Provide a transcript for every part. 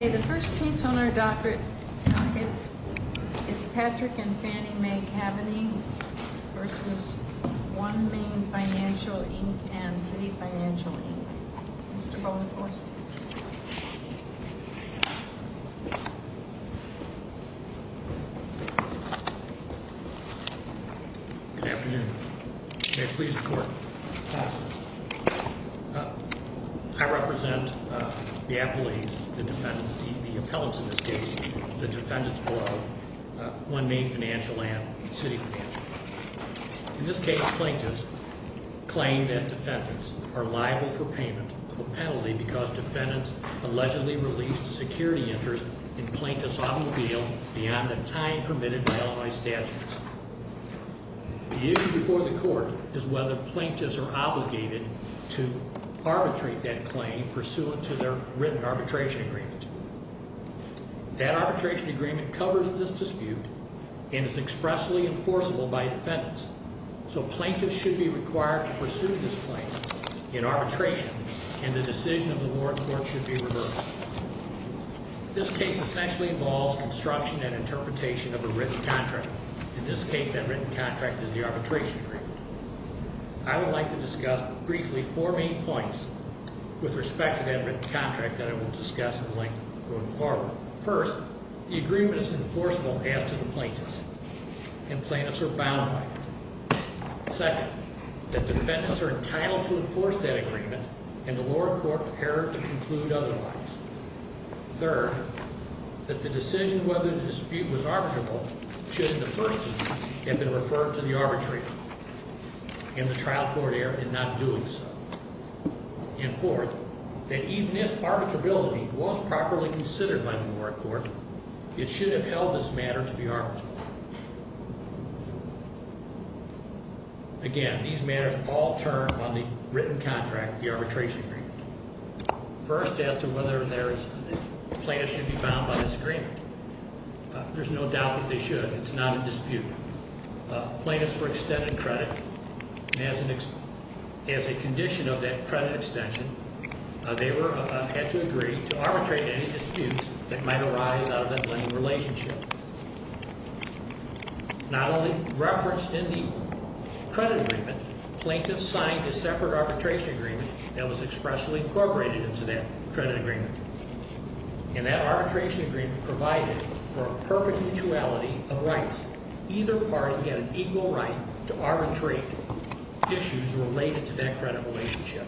And the first piece on our docket is Patrick and Fannie Mae Kaveny v. OneMain Financial, Inc. and City Financial, Inc. Mr. Boniforce. Good afternoon. May it please the Court. I represent the appellees, the defendants, the appellants in this case, the defendants below OneMain Financial and City Financial. In this case, plaintiffs claim that defendants are liable for payment of a penalty because defendants allegedly released a security interest in plaintiff's automobile beyond a time permitted by Illinois statutes. The issue before the Court is whether plaintiffs are obligated to arbitrate that claim pursuant to their written arbitration agreement. That arbitration agreement covers this dispute and is expressly enforceable by defendants. So plaintiffs should be required to pursue this claim in arbitration and the decision of the warrant court should be reversed. This case essentially involves construction and interpretation of a written contract. In this case, that written contract is the arbitration agreement. I would like to discuss briefly four main points with respect to that written contract that I will discuss in length going forward. First, the agreement is enforceable after the plaintiffs and plaintiffs are bound by it. Second, that defendants are entitled to enforce that agreement and the warrant court prepared to conclude otherwise. Third, that the decision whether the dispute was arbitrable should in the first instance have been referred to the arbitrator in the trial court area in not doing so. And fourth, that even if arbitrability was properly considered by the warrant court, it should have held this matter to be arbitrable. Again, these matters all turn on the written contract, the arbitration agreement. First, as to whether or not plaintiffs should be bound by this agreement, there's no doubt that they should. It's not a dispute. Plaintiffs were extended credit and as a condition of that credit extension, they had to agree to arbitrate any disputes that might arise out of that lending relationship. Not only referenced in the credit agreement, plaintiffs signed a separate arbitration agreement that was expressly incorporated into that credit agreement. And that arbitration agreement provided for a perfect mutuality of rights. Either party had an equal right to arbitrate issues related to that credit relationship,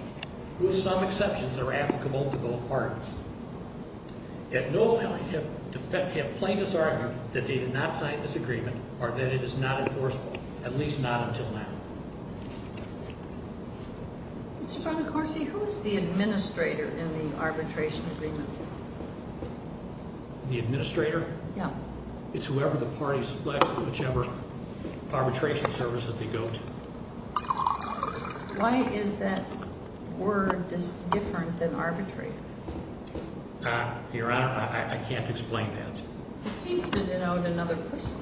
with some exceptions that were applicable to both parties. At no point have plaintiffs argued that they did not sign this agreement or that it is not enforceable. At least not until now. Mr. Bonacorsi, who is the administrator in the arbitration agreement? The administrator? Yeah. It's whoever the party selects, whichever arbitration service that they go to. Why is that word different than arbitrator? Your Honor, I can't explain that. It seems to denote another person.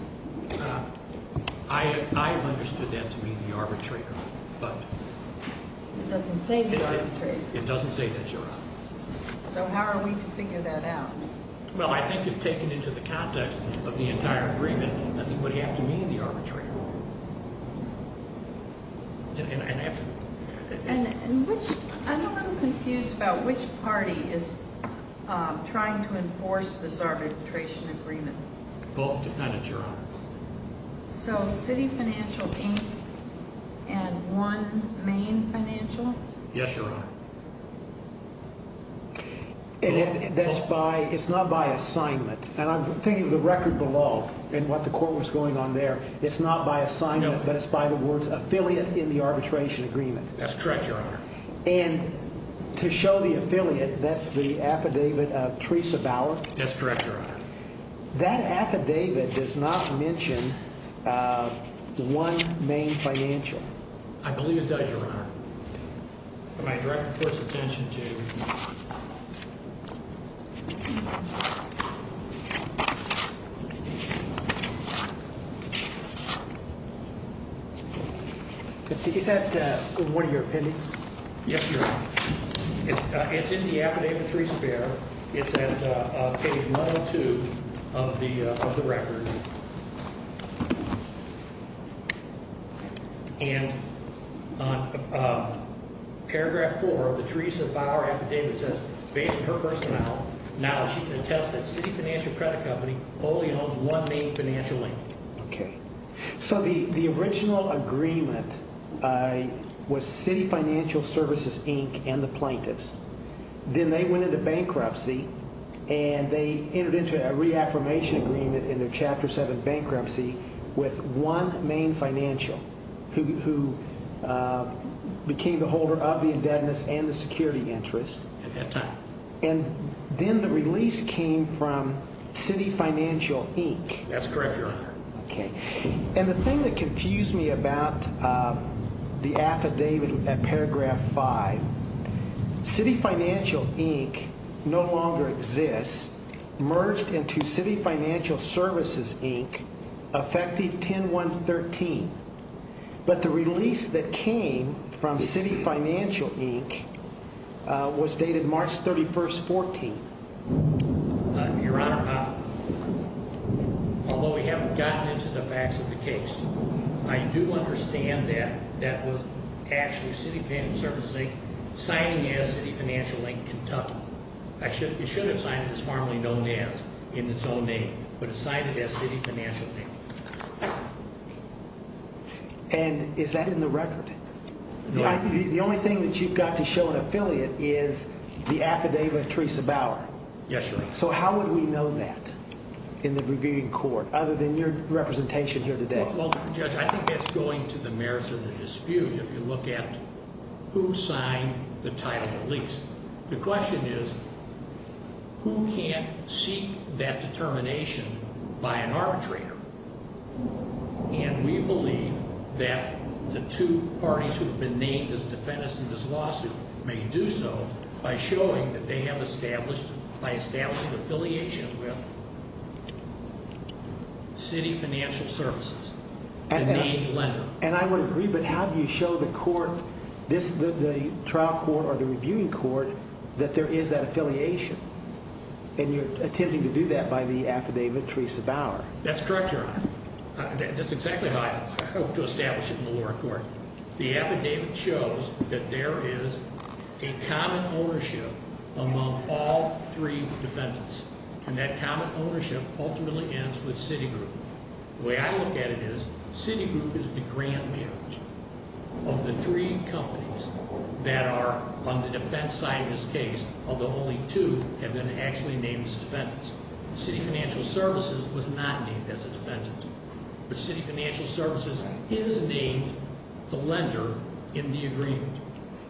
I have understood that to mean the arbitrator. It doesn't say the arbitrator. It doesn't say that, Your Honor. So how are we to figure that out? Well, I think if taken into the context of the entire agreement, nothing would have to mean the arbitrator. I'm a little confused about which party is trying to enforce this arbitration agreement. Both defendants, Your Honor. So City Financial Inc. and one Maine Financial? Yes, Your Honor. It's not by assignment. And I'm thinking of the record below and what the court was going on there. It's not by assignment, but it's by the words affiliate in the arbitration agreement. That's correct, Your Honor. And to show the affiliate, that's the affidavit of Teresa Bauer? That's correct, Your Honor. That affidavit does not mention one Maine Financial. I believe it does, Your Honor. For my direct court's attention, too. Is that one of your appendix? Yes, Your Honor. It's in the affidavit of Teresa Bauer. It's at page 102 of the record. And on paragraph 4 of the Teresa Bauer affidavit says, based on her personal knowledge, she can attest that City Financial Credit Company only owns one Maine Financial Inc. Okay. So the original agreement was City Financial Services, Inc. and the plaintiffs. Then they went into bankruptcy and they entered into a reaffirmation agreement in their Chapter 7 bankruptcy with one Maine Financial, who became the holder of the indebtedness and the security interest. At that time. And then the release came from City Financial, Inc. That's correct, Your Honor. Okay. And the thing that confused me about the affidavit at paragraph 5, City Financial, Inc. no longer exists, merged into City Financial Services, Inc., effective 10-1-13. But the release that came from City Financial, Inc. was dated March 31, 14. Your Honor, although we haven't gotten into the facts of the case, I do understand that that was actually City Financial Services, Inc. signing as City Financial, Inc., Kentucky. It should have signed as formerly known as in its own name, but it signed it as City Financial, Inc. And is that in the record? No. The only thing that you've got to show an affiliate is the affidavit of Teresa Bauer. Yes, Your Honor. So how would we know that in the reviewing court other than your representation here today? Well, Judge, I think that's going to the merits of the dispute if you look at who signed the title release. The question is who can't seek that determination by an arbitrator? And we believe that the two parties who have been named as defendants in this lawsuit may do so by showing that they have established, by establishing affiliation with City Financial Services, the named lender. And I would agree, but how do you show the court, the trial court or the reviewing court, that there is that affiliation? And you're attempting to do that by the affidavit of Teresa Bauer. That's correct, Your Honor. That's exactly how I hope to establish it in the lower court. The affidavit shows that there is a common ownership among all three defendants, and that common ownership ultimately ends with Citigroup. The way I look at it is Citigroup is the grand marriage of the three companies that are on the defense side of this case, although only two have been actually named as defendants. City Financial Services was not named as a defendant. But City Financial Services is named the lender in the agreement.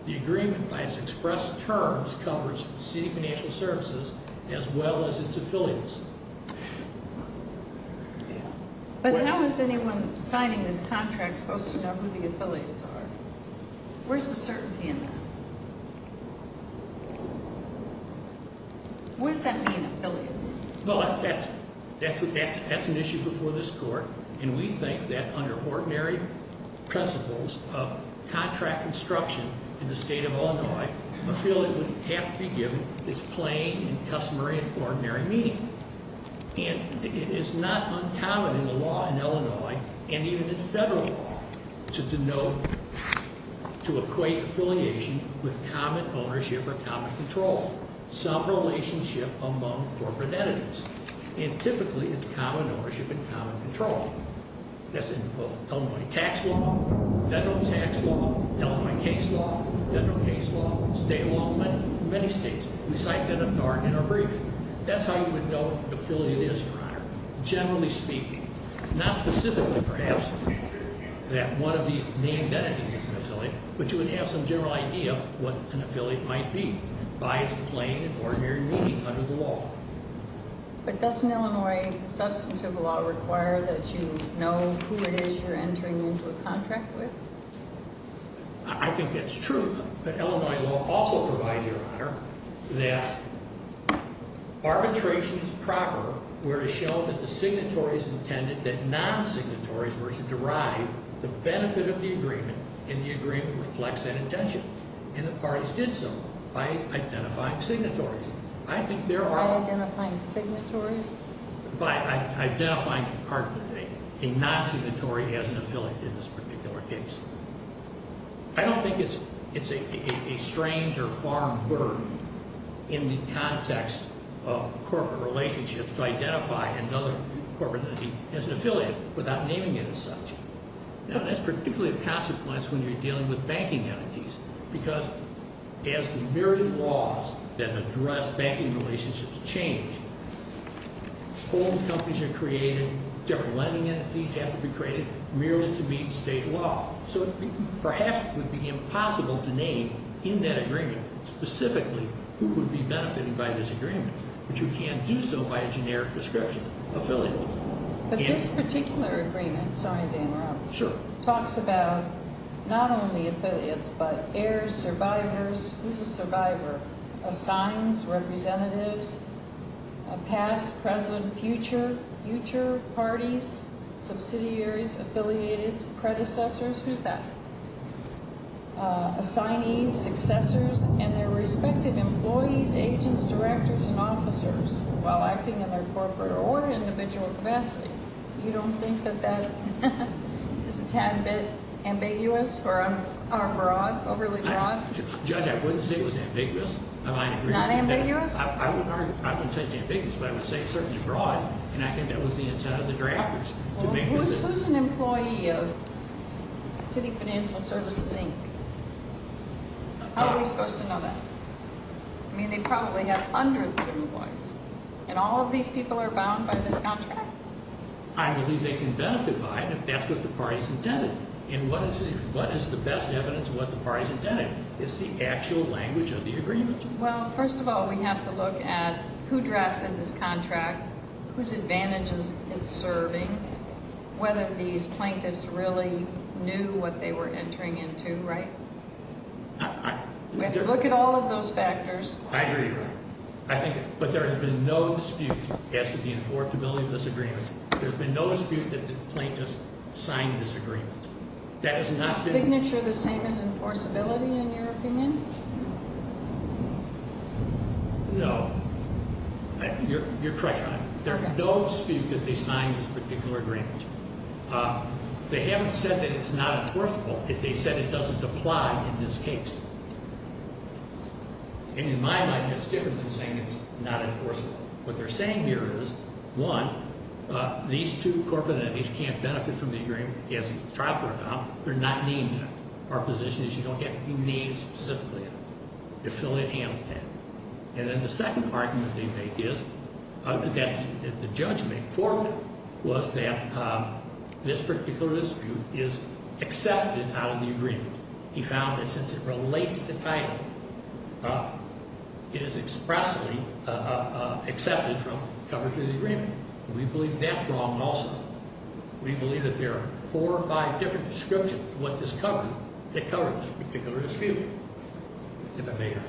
The agreement by its expressed terms covers City Financial Services as well as its affiliates. But how is anyone signing this contract supposed to know who the affiliates are? Where's the certainty in that? Where does that mean, affiliates? Well, that's an issue before this court, and we think that under ordinary principles of contract construction in the state of Illinois, affiliates would have to be given this plain and customary and ordinary meaning. And it is not uncommon in the law in Illinois, and even in federal law, to denote, to equate affiliation with common ownership or common control, some relationship among corporate entities. And typically, it's common ownership and common control. That's in both Illinois tax law, federal tax law, Illinois case law, federal case law, state law in many states. We cite that authority in our brief. That's how you would know what an affiliate is, Your Honor, generally speaking. Not specifically, perhaps, that one of these named entities is an affiliate, but you would have some general idea of what an affiliate might be by its plain and ordinary meaning under the law. But doesn't Illinois substantive law require that you know who it is you're entering into a contract with? I think it's true that Illinois law also provides, Your Honor, that arbitration is proper where it is shown that the signatories intended that non-signatories were to derive the benefit of the agreement, and the agreement reflects that intention. And the parties did so by identifying signatories. I think there are... By identifying signatories? By identifying a non-signatory as an affiliate in this particular case. I don't think it's a strange or foreign word in the context of corporate relationships to identify another corporate entity as an affiliate without naming it as such. Now, that's particularly of consequence when you're dealing with banking entities because as the myriad of laws that address banking relationships change, old companies are created, different lending entities have to be created merely to meet state law. So perhaps it would be impossible to name in that agreement specifically who would be benefited by this agreement, but you can do so by a generic description, affiliate. But this particular agreement, sorry to interrupt, talks about not only affiliates but heirs, survivors, who's a survivor, assigns, representatives, past, present, future, future parties, subsidiaries, affiliates, predecessors, who's that, assignees, successors, and their respective employees, agents, directors, and officers while acting in their corporate or individual capacity. You don't think that that is a tad bit ambiguous or broad, overly broad? Judge, I wouldn't say it was ambiguous. It's not ambiguous? I wouldn't say it's ambiguous, but I would say it's certainly broad, and I think that was the intent of the draft. Who's an employee of City Financial Services, Inc.? How are we supposed to know that? I mean, they probably have hundreds of employees, and all of these people are bound by this contract? I believe they can benefit by it if that's what the party's intended. And what is the best evidence of what the party's intended? It's the actual language of the agreement. Well, first of all, we have to look at who drafted this contract, whose advantages it's serving, whether these plaintiffs really knew what they were entering into, right? We have to look at all of those factors. I agree with you. But there has been no dispute as to the enforceability of this agreement. There's been no dispute that the plaintiffs signed this agreement. Is the signature the same as enforceability, in your opinion? No. You're correct, Your Honor. There's no dispute that they signed this particular agreement. They haven't said that it's not enforceable if they said it doesn't apply in this case. And in my mind, it's different than saying it's not enforceable. What they're saying here is, one, these two corporate entities can't benefit from the agreement as a trial court found. They're not named that. Our position is you don't have to be named specifically. The affiliate handled that. And then the second argument they make is that the judgment for it was that this particular dispute is accepted out of the agreement. He found that since it relates to title, it is expressly accepted from coverage of the agreement. We believe that's wrong also. We believe that there are four or five different descriptions of what this covers, that cover this particular dispute. If I may, Your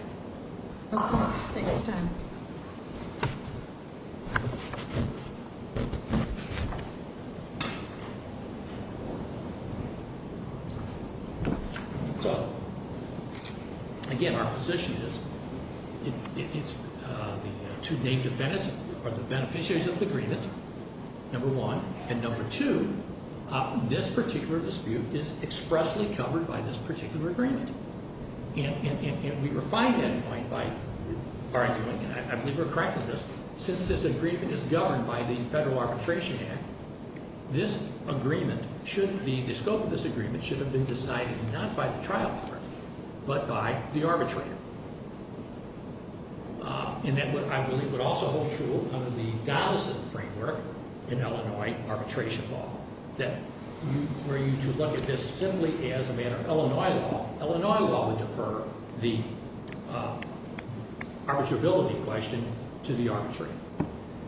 Honor. Okay. Take your time. So, again, our position is it's the two named defendants are the beneficiaries of the agreement, number one, and number two, this particular dispute is expressly covered by this particular agreement. And we refine that point by arguing, and I believe we're correct in this, since this agreement is governed by the Federal Arbitration Act, this agreement should be, the scope of this agreement should have been decided not by the trial court but by the arbitrator. And that I believe would also hold true under the Donelson framework in Illinois arbitration law, where you look at this simply as a matter of Illinois law. Illinois law would defer the arbitrability question to the arbitrator.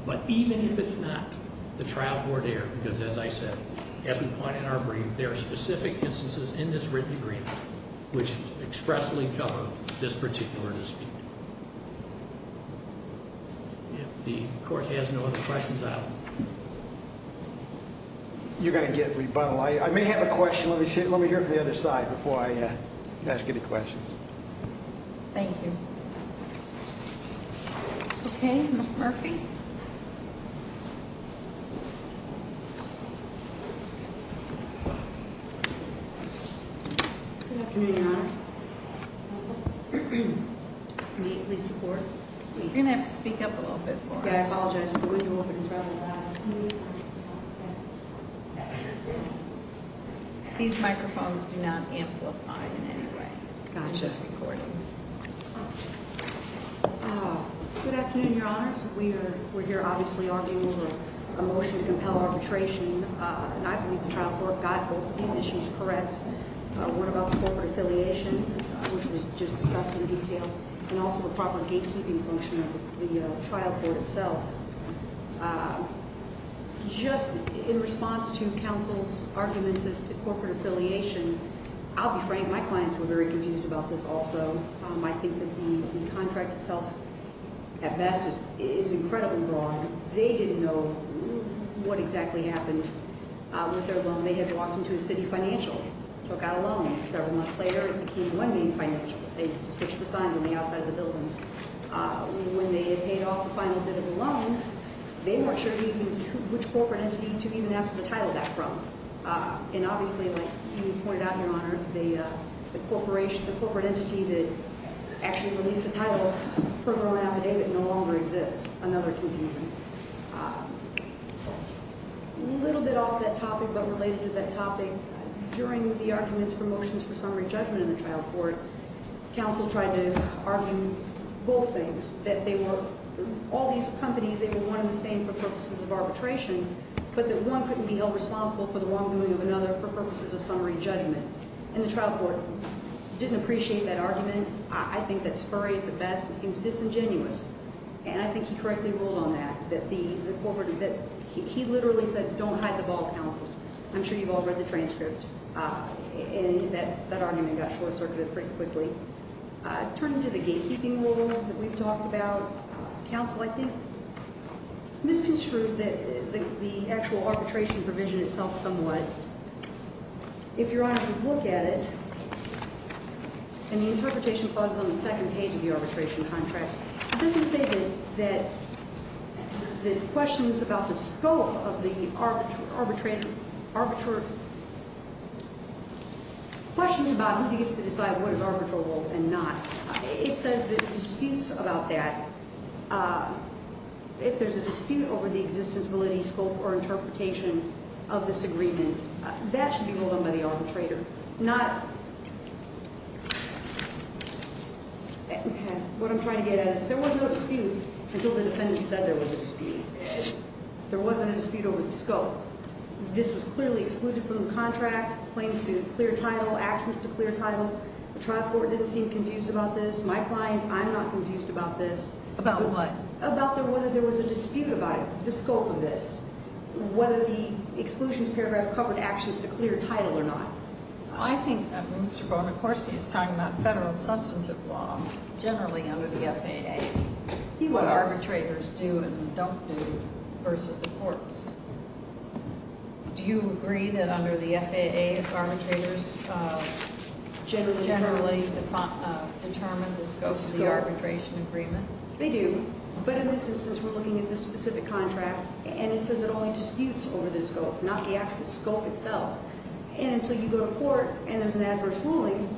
But even if it's not the trial court error, because as I said, as we point in our brief, there are specific instances in this written agreement which expressly cover this particular dispute. If the court has no other questions, I will. You're going to get rebuttal. I may have a question. Let me hear it from the other side before I ask any questions. Thank you. Okay, Ms. Murphy. Good afternoon, Your Honors. May it please the Court? You're going to have to speak up a little bit for us. Yeah, I apologize. The window opened. It's rather loud. These microphones do not amplify in any way. Gotcha. Good afternoon, Your Honors. We're here, obviously, arguing over a motion to compel arbitration. And I believe the trial court got both of these issues correct. What about corporate affiliation, which was just discussed in detail, and also the proper gatekeeping function of the trial court itself. Just in response to counsel's arguments as to corporate affiliation, I'll be frank, my clients were very confused about this also. I think that the contract itself, at best, is incredibly broad. They didn't know what exactly happened with their loan. They had walked into a city financial, took out a loan. Several months later, it became one big financial. They switched the signs on the outside of the building. When they had paid off the final bit of the loan, they weren't sure which corporate entity to even ask for the title back from. And obviously, like you pointed out, Your Honor, the corporate entity that actually released the title program affidavit no longer exists. Another confusion. A little bit off that topic, but related to that topic, during the arguments for motions for summary judgment in the trial court, counsel tried to argue both things, that all these companies, they were one and the same for purposes of arbitration, but that one couldn't be held responsible for the wrongdoing of another for purposes of summary judgment. And the trial court didn't appreciate that argument. I think that's spurious at best. It seems disingenuous. And I think he correctly ruled on that, that he literally said, don't hide the ball, counsel. I'm sure you've all read the transcript. And that argument got short-circuited pretty quickly. Turning to the gatekeeping rule that we've talked about, counsel, I think, misconstrued the actual arbitration provision itself somewhat. If Your Honor can look at it, and the interpretation pauses on the second page of the arbitration contract, it doesn't say that the questions about the scope of the arbitrary question about who gets to decide what is arbitral and not, it says that the disputes about that, if there's a dispute over the existence, validity, scope, or interpretation of this agreement, that should be ruled on by the arbitrator. Not, what I'm trying to get at is, if there was no dispute until the defendant said there was a dispute, if there wasn't a dispute over the scope, this was clearly excluded from the contract, claims to clear title, actions to clear title. The trial court didn't seem confused about this. My clients, I'm not confused about this. About what? About whether there was a dispute about it, the scope of this. Whether the exclusions paragraph covered actions to clear title or not. I think Mr. Bone, of course, he's talking about federal substantive law, generally under the FAA. He was. What arbitrators do and don't do versus the courts. Do you agree that under the FAA, arbitrators generally determine the scope of the arbitration agreement? They do. But in this instance, we're looking at this specific contract, and it says it only disputes over the scope, not the actual scope itself. And until you go to court and there's an adverse ruling,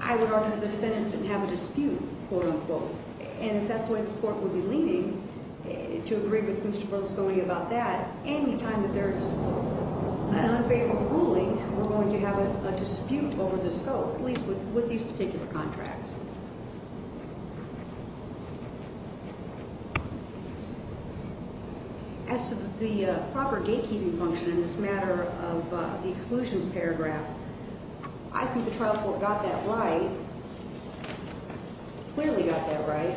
I would argue the defendants didn't have a dispute, quote, unquote. And if that's the way this court would be leaning, to agree with Mr. Berlusconi about that, any time that there's an unfavorable ruling, we're going to have a dispute over the scope, at least with these particular contracts. As to the proper gatekeeping function in this matter of the exclusions paragraph, I think the trial court got that right, clearly got that right.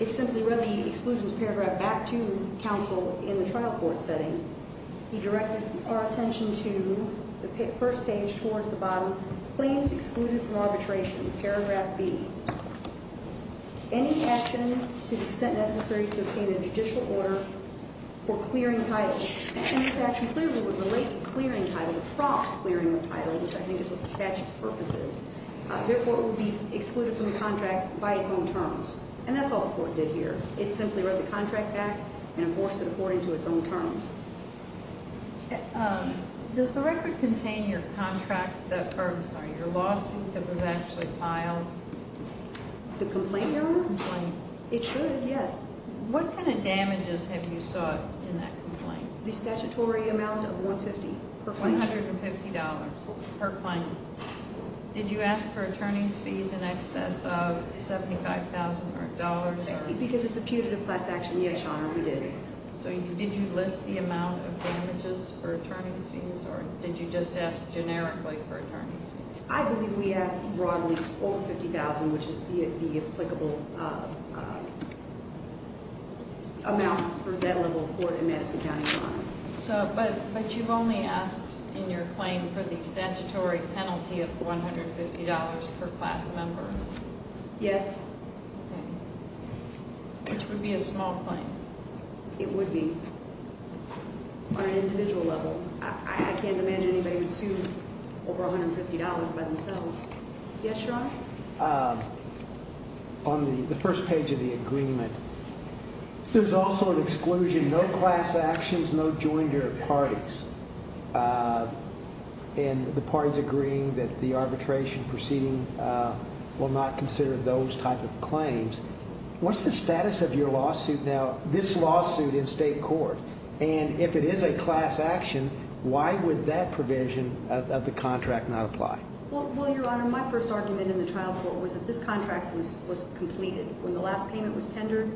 It simply read the exclusions paragraph back to counsel in the trial court setting. He directed our attention to the first page towards the bottom. Claims excluded from arbitration, paragraph B. Any action to the extent necessary to obtain a judicial order for clearing title. And this action clearly would relate to clearing title, the prompt clearing of title, which I think is what the statute of purpose is. Therefore, it would be excluded from the contract by its own terms. And that's all the court did here. It simply read the contract back and enforced it according to its own terms. Does the record contain your contract that, or I'm sorry, your lawsuit that was actually filed? The complaint, Your Honor? The complaint. It should, yes. What kind of damages have you sought in that complaint? The statutory amount of $150 per claim. $150 per claim. Did you ask for attorney's fees in excess of $75,000? Because it's a putative class action, yes, Your Honor, we did. So did you list the amount of damages for attorney's fees, or did you just ask generically for attorney's fees? I believe we asked broadly for $50,000, which is the applicable amount for that level of court in Madison County, Your Honor. But you've only asked in your claim for the statutory penalty of $150 per class member. Yes. Which would be a small claim. It would be on an individual level. I can't imagine anybody would sue over $150 by themselves. Yes, Your Honor? On the first page of the agreement, there's also an exclusion, no class actions, no jointer parties. And the parties agreeing that the arbitration proceeding will not consider those type of claims. What's the status of your lawsuit now, this lawsuit in state court? And if it is a class action, why would that provision of the contract not apply? Well, Your Honor, my first argument in the trial court was that this contract was completed. When the last payment was tendered,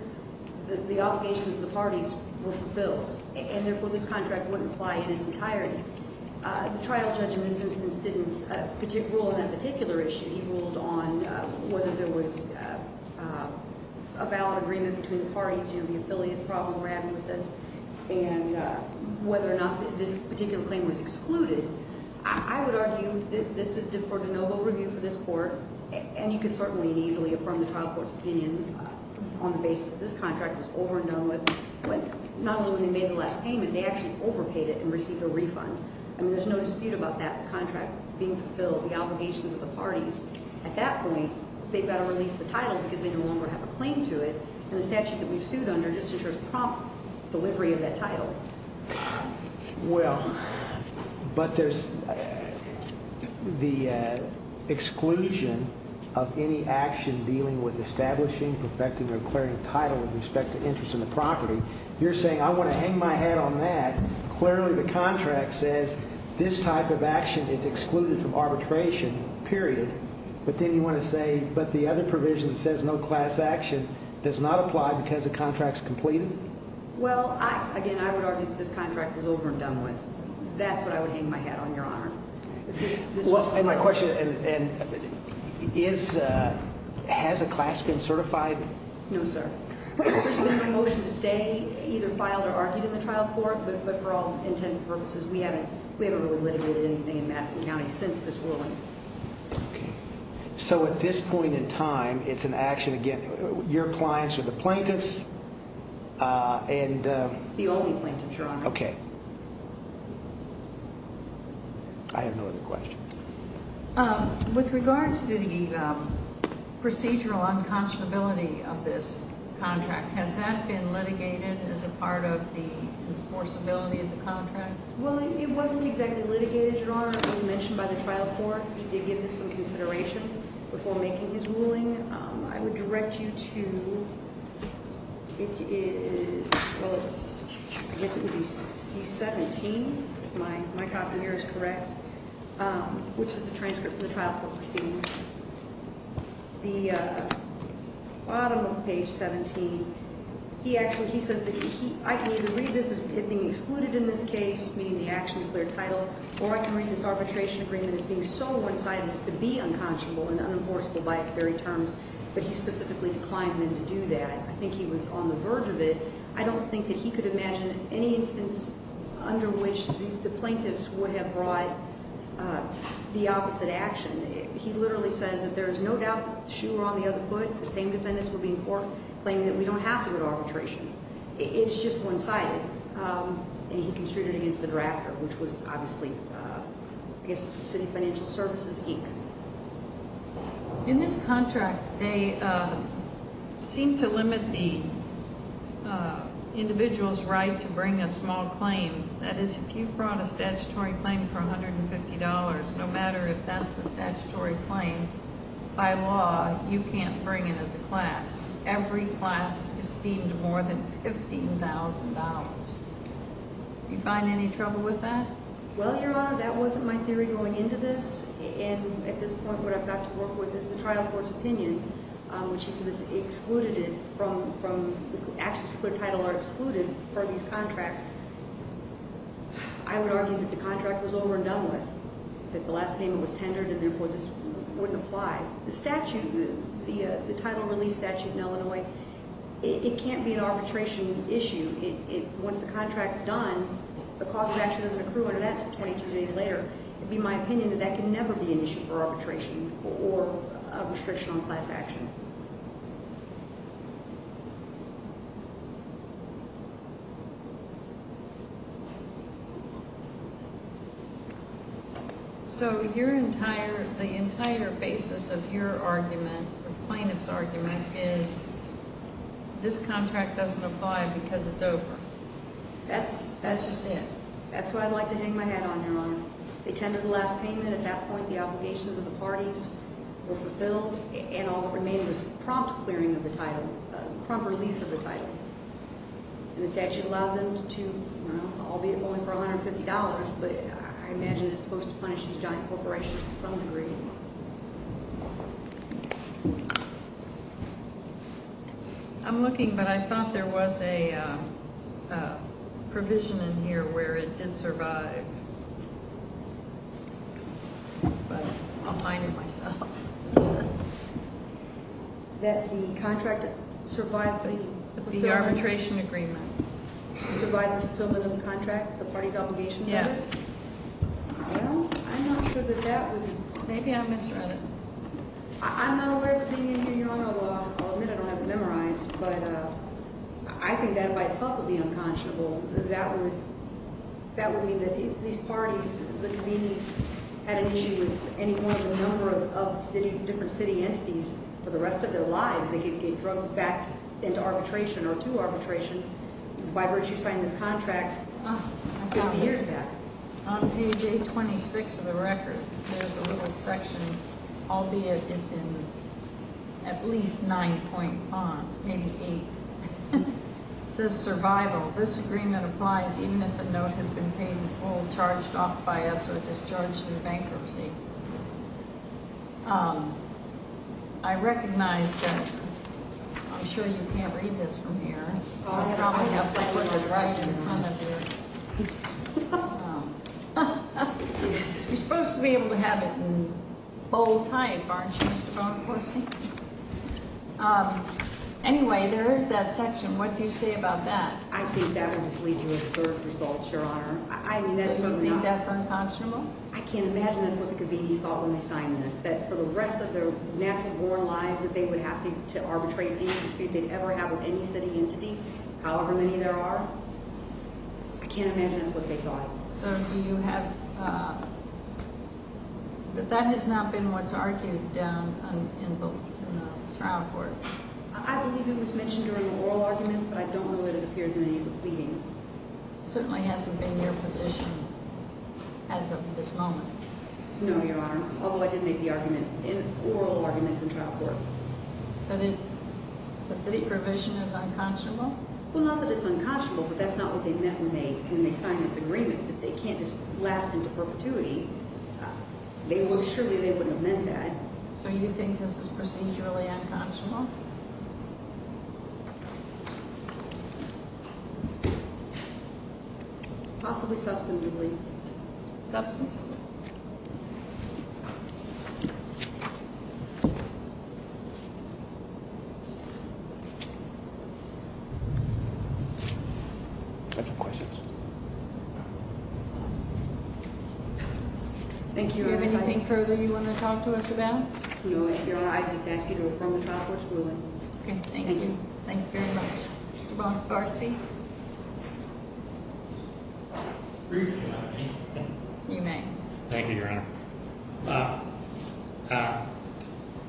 the obligations of the parties were fulfilled, and therefore this contract wouldn't apply in its entirety. The trial judge in this instance didn't rule on that particular issue. He ruled on whether there was a valid agreement between the parties, you know, the affiliate problem we're having with this, and whether or not this particular claim was excluded. I would argue that this is for the no vote review for this court, and you can certainly and easily affirm the trial court's opinion on the basis this contract was over and done with. But not only did they make the last payment, they actually overpaid it and received a refund. I mean, there's no dispute about that contract being fulfilled, the obligations of the parties. At that point, they've got to release the title because they no longer have a claim to it, and the statute that we've sued under just ensures prompt delivery of that title. Well, but there's the exclusion of any action dealing with establishing, perfecting, or declaring title with respect to interest in the property. You're saying I want to hang my head on that. Clearly the contract says this type of action is excluded from arbitration, period. But then you want to say, but the other provision that says no class action does not apply because the contract's completed? Well, again, I would argue that this contract was over and done with. That's what I would hang my head on, Your Honor. And my question is, has a class been certified? No, sir. It's been my motion to stay, either filed or argued in the trial court, but for all intents and purposes, we haven't really litigated anything in Madison County since this ruling. So at this point in time, it's an action, again, your clients or the plaintiffs? The only plaintiffs, Your Honor. Okay. I have no other questions. With regard to the procedural unconscionability of this contract, has that been litigated as a part of the enforceability of the contract? Well, it wasn't exactly litigated, Your Honor. It was mentioned by the trial court. He did give this some consideration before making his ruling. I would direct you to, it is, well, I guess it would be C-17. My copy here is correct, which is the transcript from the trial court proceedings. The bottom of page 17, he actually, he says that I can either read this as being excluded in this case, meaning the action declared title, or I can read this arbitration agreement as being so one-sided as to be unconscionable and unenforceable by its very terms, but he specifically declined me to do that. I think he was on the verge of it. I don't think that he could imagine any instance under which the plaintiffs would have brought the opposite action. He literally says that there is no doubt that the shoe were on the other foot, the same defendants were being courted, claiming that we don't have to do arbitration. It's just one-sided, and he construed it against the drafter, which was obviously, I guess, City Financial Services, Inc. In this contract, they seem to limit the individual's right to bring a small claim. That is, if you brought a statutory claim for $150, no matter if that's the statutory claim, by law, you can't bring it as a class. Every class is deemed more than $15,000. Do you find any trouble with that? Well, Your Honor, that wasn't my theory going into this, and at this point, what I've got to work with is the trial court's opinion, which he says excluded it from, the actions declared title are excluded per these contracts. I would argue that the contract was over and done with, that the last payment was tendered, and therefore this wouldn't apply. The statute, the title release statute in Illinois, it can't be an arbitration issue. Once the contract's done, the cause of action doesn't accrue under that until 22 days later. It would be my opinion that that can never be an issue for arbitration or a restriction on class action. So the entire basis of your argument, the plaintiff's argument, is this contract doesn't apply because it's over. That's just it. That's what I'd like to hang my hat on, Your Honor. They tendered the last payment. At that point, the obligations of the parties were fulfilled, and all that remained was prompt clearing of the title, prompt release of the title. And the statute allows them to, you know, albeit only for $150, but I imagine it's supposed to punish these giant corporations to some degree. I'm looking, but I thought there was a provision in here where it did survive. But I'll find it myself. That the contract survived the fulfillment? The arbitration agreement. Survived the fulfillment of the contract, the parties' obligations of it? Yeah. Well, I'm not sure that that would- Maybe I misread it. I'm not aware of it being in here, Your Honor, although I'll admit I don't have it memorized. But I think that by itself would be unconscionable. That would mean that if these parties, the conveners, had an issue with any one of the number of different city entities for the rest of their lives, they could get drugged back into arbitration or to arbitration by virtue of signing this contract 50 years back. On page 826 of the record, there's a little section, albeit it's in at least 9.5, maybe 8. It says survival. This agreement applies even if a note has been paid in full, charged off by us, or discharged in bankruptcy. I recognize that I'm sure you can't read this from here. You're supposed to be able to have it in bold type, aren't you, Mr. Bonaparte? Anyway, there is that section. What do you say about that? I think that would just lead to absurd results, Your Honor. Do you think that's unconscionable? I can't imagine that's what the committees thought when they signed this, that for the rest of their natural-born lives, if they would have to arbitrate any dispute they'd ever have with any city entity, however many there are, I can't imagine that's what they thought. So do you have – but that has not been what's argued down in the trial court. I believe it was mentioned during the oral arguments, but I don't know that it appears in any of the pleadings. It certainly hasn't been your position as of this moment. No, Your Honor, although I did make the argument in oral arguments in trial court. That this provision is unconscionable? Well, not that it's unconscionable, but that's not what they meant when they signed this agreement, that they can't just blast into perpetuity. Surely they wouldn't have meant that. So you think this is procedurally unconscionable? Possibly substantively. Substantively. Thank you, Your Honor. Do you have anything further you want to talk to us about? No, Your Honor, I just ask you to affirm the trial court's ruling. Okay, thank you. Thank you. Thank you very much. Mr. Bonifaci? Briefly, Your Honor. You may. Thank you, Your Honor.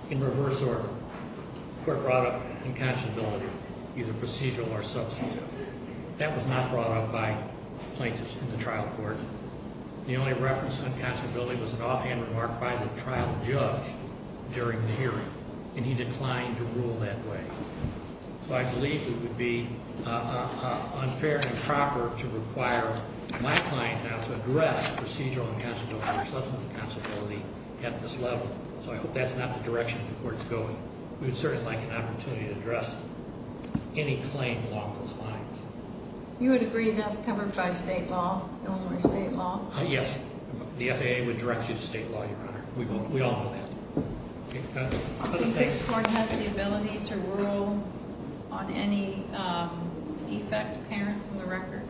In reverse order, the court brought up unconscionability, either procedural or substantive. That was not brought up by plaintiffs in the trial court. The only reference to unconscionability was an offhand remark by the trial judge during the hearing, and he declined to rule that way. So I believe it would be unfair and improper to require my client now to address procedural unconscionability or substantive unconscionability at this level. So I hope that's not the direction the court's going. We would certainly like an opportunity to address any claim along those lines. You would agree that's covered by state law, Illinois state law? Yes. The FAA would direct you to state law, Your Honor. We all know that. Do you think this court has the ability to rule on any defect apparent in the record?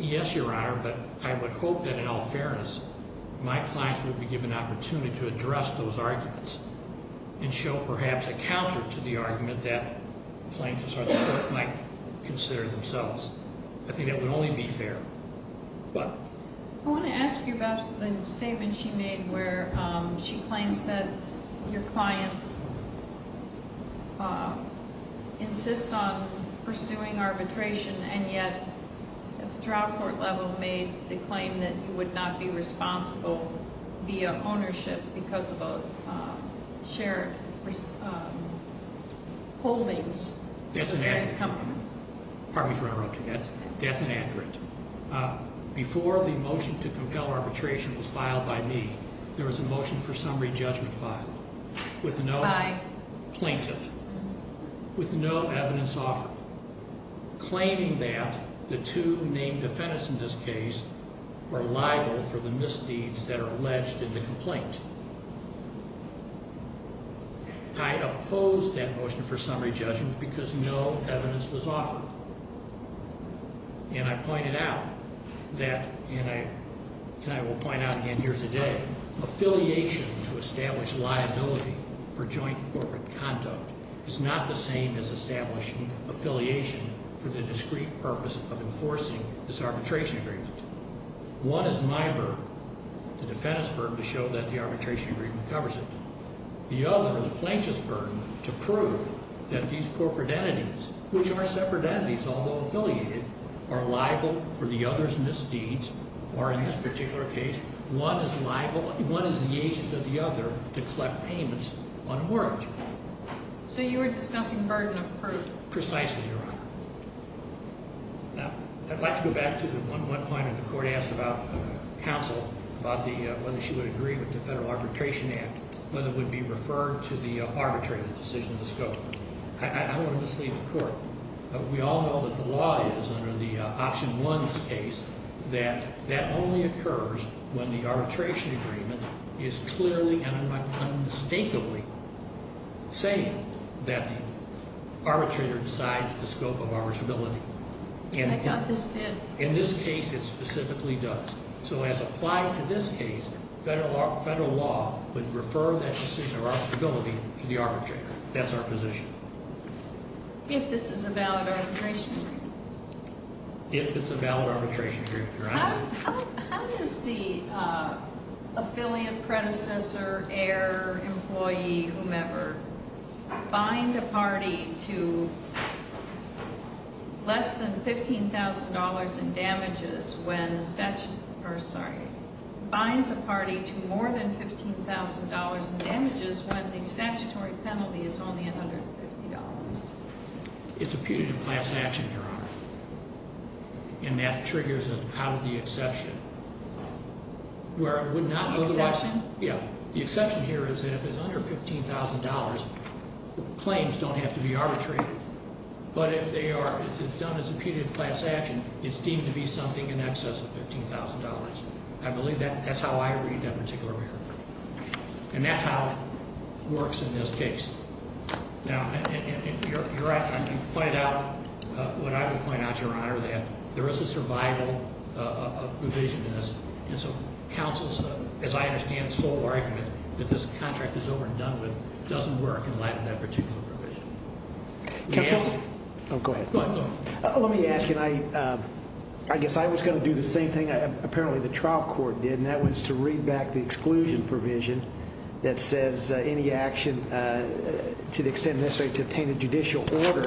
Yes, Your Honor, but I would hope that in all fairness, my clients would be given an opportunity to address those arguments and show perhaps a counter to the argument that plaintiffs or the court might consider themselves. I think that would only be fair. I want to ask you about the statement she made where she claims that your clients insist on pursuing arbitration, and yet at the trial court level made the claim that you would not be responsible via ownership because of shared holdings. That's inaccurate. Pardon me for interrupting. That's inaccurate. Before the motion to compel arbitration was filed by me, there was a motion for summary judgment filed with no plaintiff, with no evidence offered, claiming that the two named defendants in this case were liable for the misdeeds that are alleged in the complaint. I opposed that motion for summary judgment because no evidence was offered. And I pointed out that, and I will point out again here today, affiliation to establish liability for joint corporate conduct is not the same as establishing affiliation for the discrete purpose of enforcing this arbitration agreement. One is my burden, the defendant's burden, to show that the arbitration agreement covers it. The other is plaintiff's burden to prove that these corporate entities, which are separate entities although affiliated, are liable for the other's misdeeds, or in this particular case, one is liable, one is the agent of the other, to collect payments on a mortgage. So you are discussing burden of proof. Precisely, Your Honor. Now, I'd like to go back to the one point that the Court asked about counsel, about whether she would agree with the Federal Arbitration Act, whether it would be referred to the arbitrator's decision to scope. I don't want to mislead the Court. We all know that the law is, under the Option 1 case, that that only occurs when the arbitration agreement is clearly and unmistakably saying that the arbitrator decides the scope of arbitrability. I thought this did. In this case, it specifically does. So as applied to this case, federal law would refer that decision of arbitrability to the arbitrator. That's our position. If this is a valid arbitration agreement? If it's a valid arbitration agreement, Your Honor. How does the affiliate, predecessor, heir, employee, whomever, bind a party to less than $15,000 in damages when the statute, or sorry, binds a party to more than $15,000 in damages when the statutory penalty is only $150? It's a putative class action, Your Honor. And that triggers an out-of-the-exception, where it would not otherwise. The exception? Yeah. The exception here is that if it's under $15,000, claims don't have to be arbitrated. But if they are, if it's done as a putative class action, it's deemed to be something in excess of $15,000. I believe that's how I read that particular record. And that's how it works in this case. Now, you're right. You point out what I would point out, Your Honor, that there is a survival provision in this. And so counsel's, as I understand it, sole argument that this contract is overdone with doesn't work in light of that particular provision. Counsel? Go ahead. Go ahead. Let me ask, and I guess I was going to do the same thing apparently the trial court did, and that was to read back the exclusion provision that says any action to the extent necessary to obtain a judicial order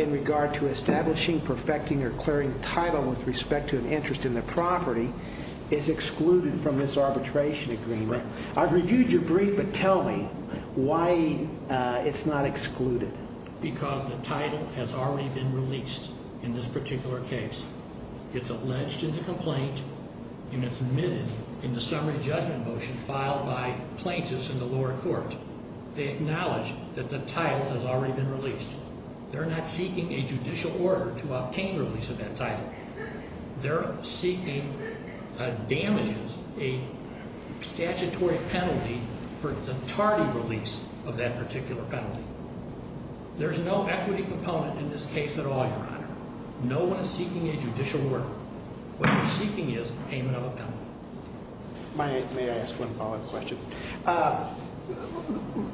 in regard to establishing, perfecting, or clearing title with respect to an interest in the property is excluded from this arbitration agreement. I've reviewed your brief, but tell me why it's not excluded. Because the title has already been released in this particular case. It's alleged in the complaint, and it's admitted in the summary judgment motion filed by plaintiffs in the lower court. They acknowledge that the title has already been released. They're not seeking a judicial order to obtain release of that title. They're seeking damages, a statutory penalty for the tardy release of that particular penalty. There's no equity proponent in this case at all, Your Honor. No one is seeking a judicial order. What they're seeking is payment of a penalty. May I ask one follow-up question?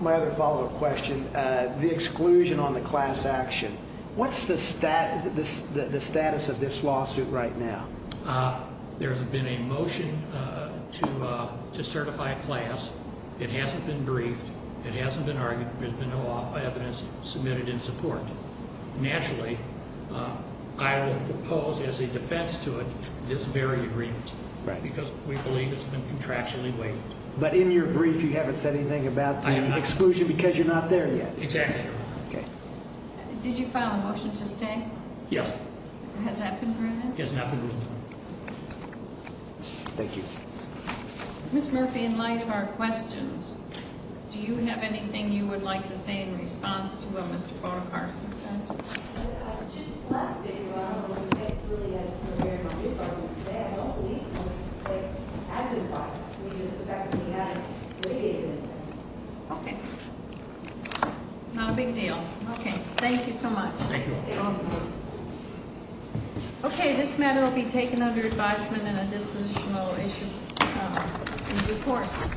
My other follow-up question, the exclusion on the class action. What's the status of this lawsuit right now? There's been a motion to certify a class. It hasn't been briefed. It hasn't been argued. There's been no evidence submitted in support. Naturally, I will propose as a defense to it this very agreement because we believe it's been contractually waived. But in your brief, you haven't said anything about the exclusion because you're not there yet? Exactly, Your Honor. Okay. Did you file a motion to stay? Yes. Has that been proven? It has not been proven. Thank you. Ms. Murphy, in light of our questions, do you have anything you would like to say in response to what Mr. Bonaparte has said? Just the last bit, Your Honor. It really has come to bear on this argument today. I don't believe that it has been filed. It's just the fact that we haven't negated it. Okay. Not a big deal. Okay. Thank you so much. Thank you. You're welcome. Okay. This matter will be taken under advisement in a dispositional issue in due course.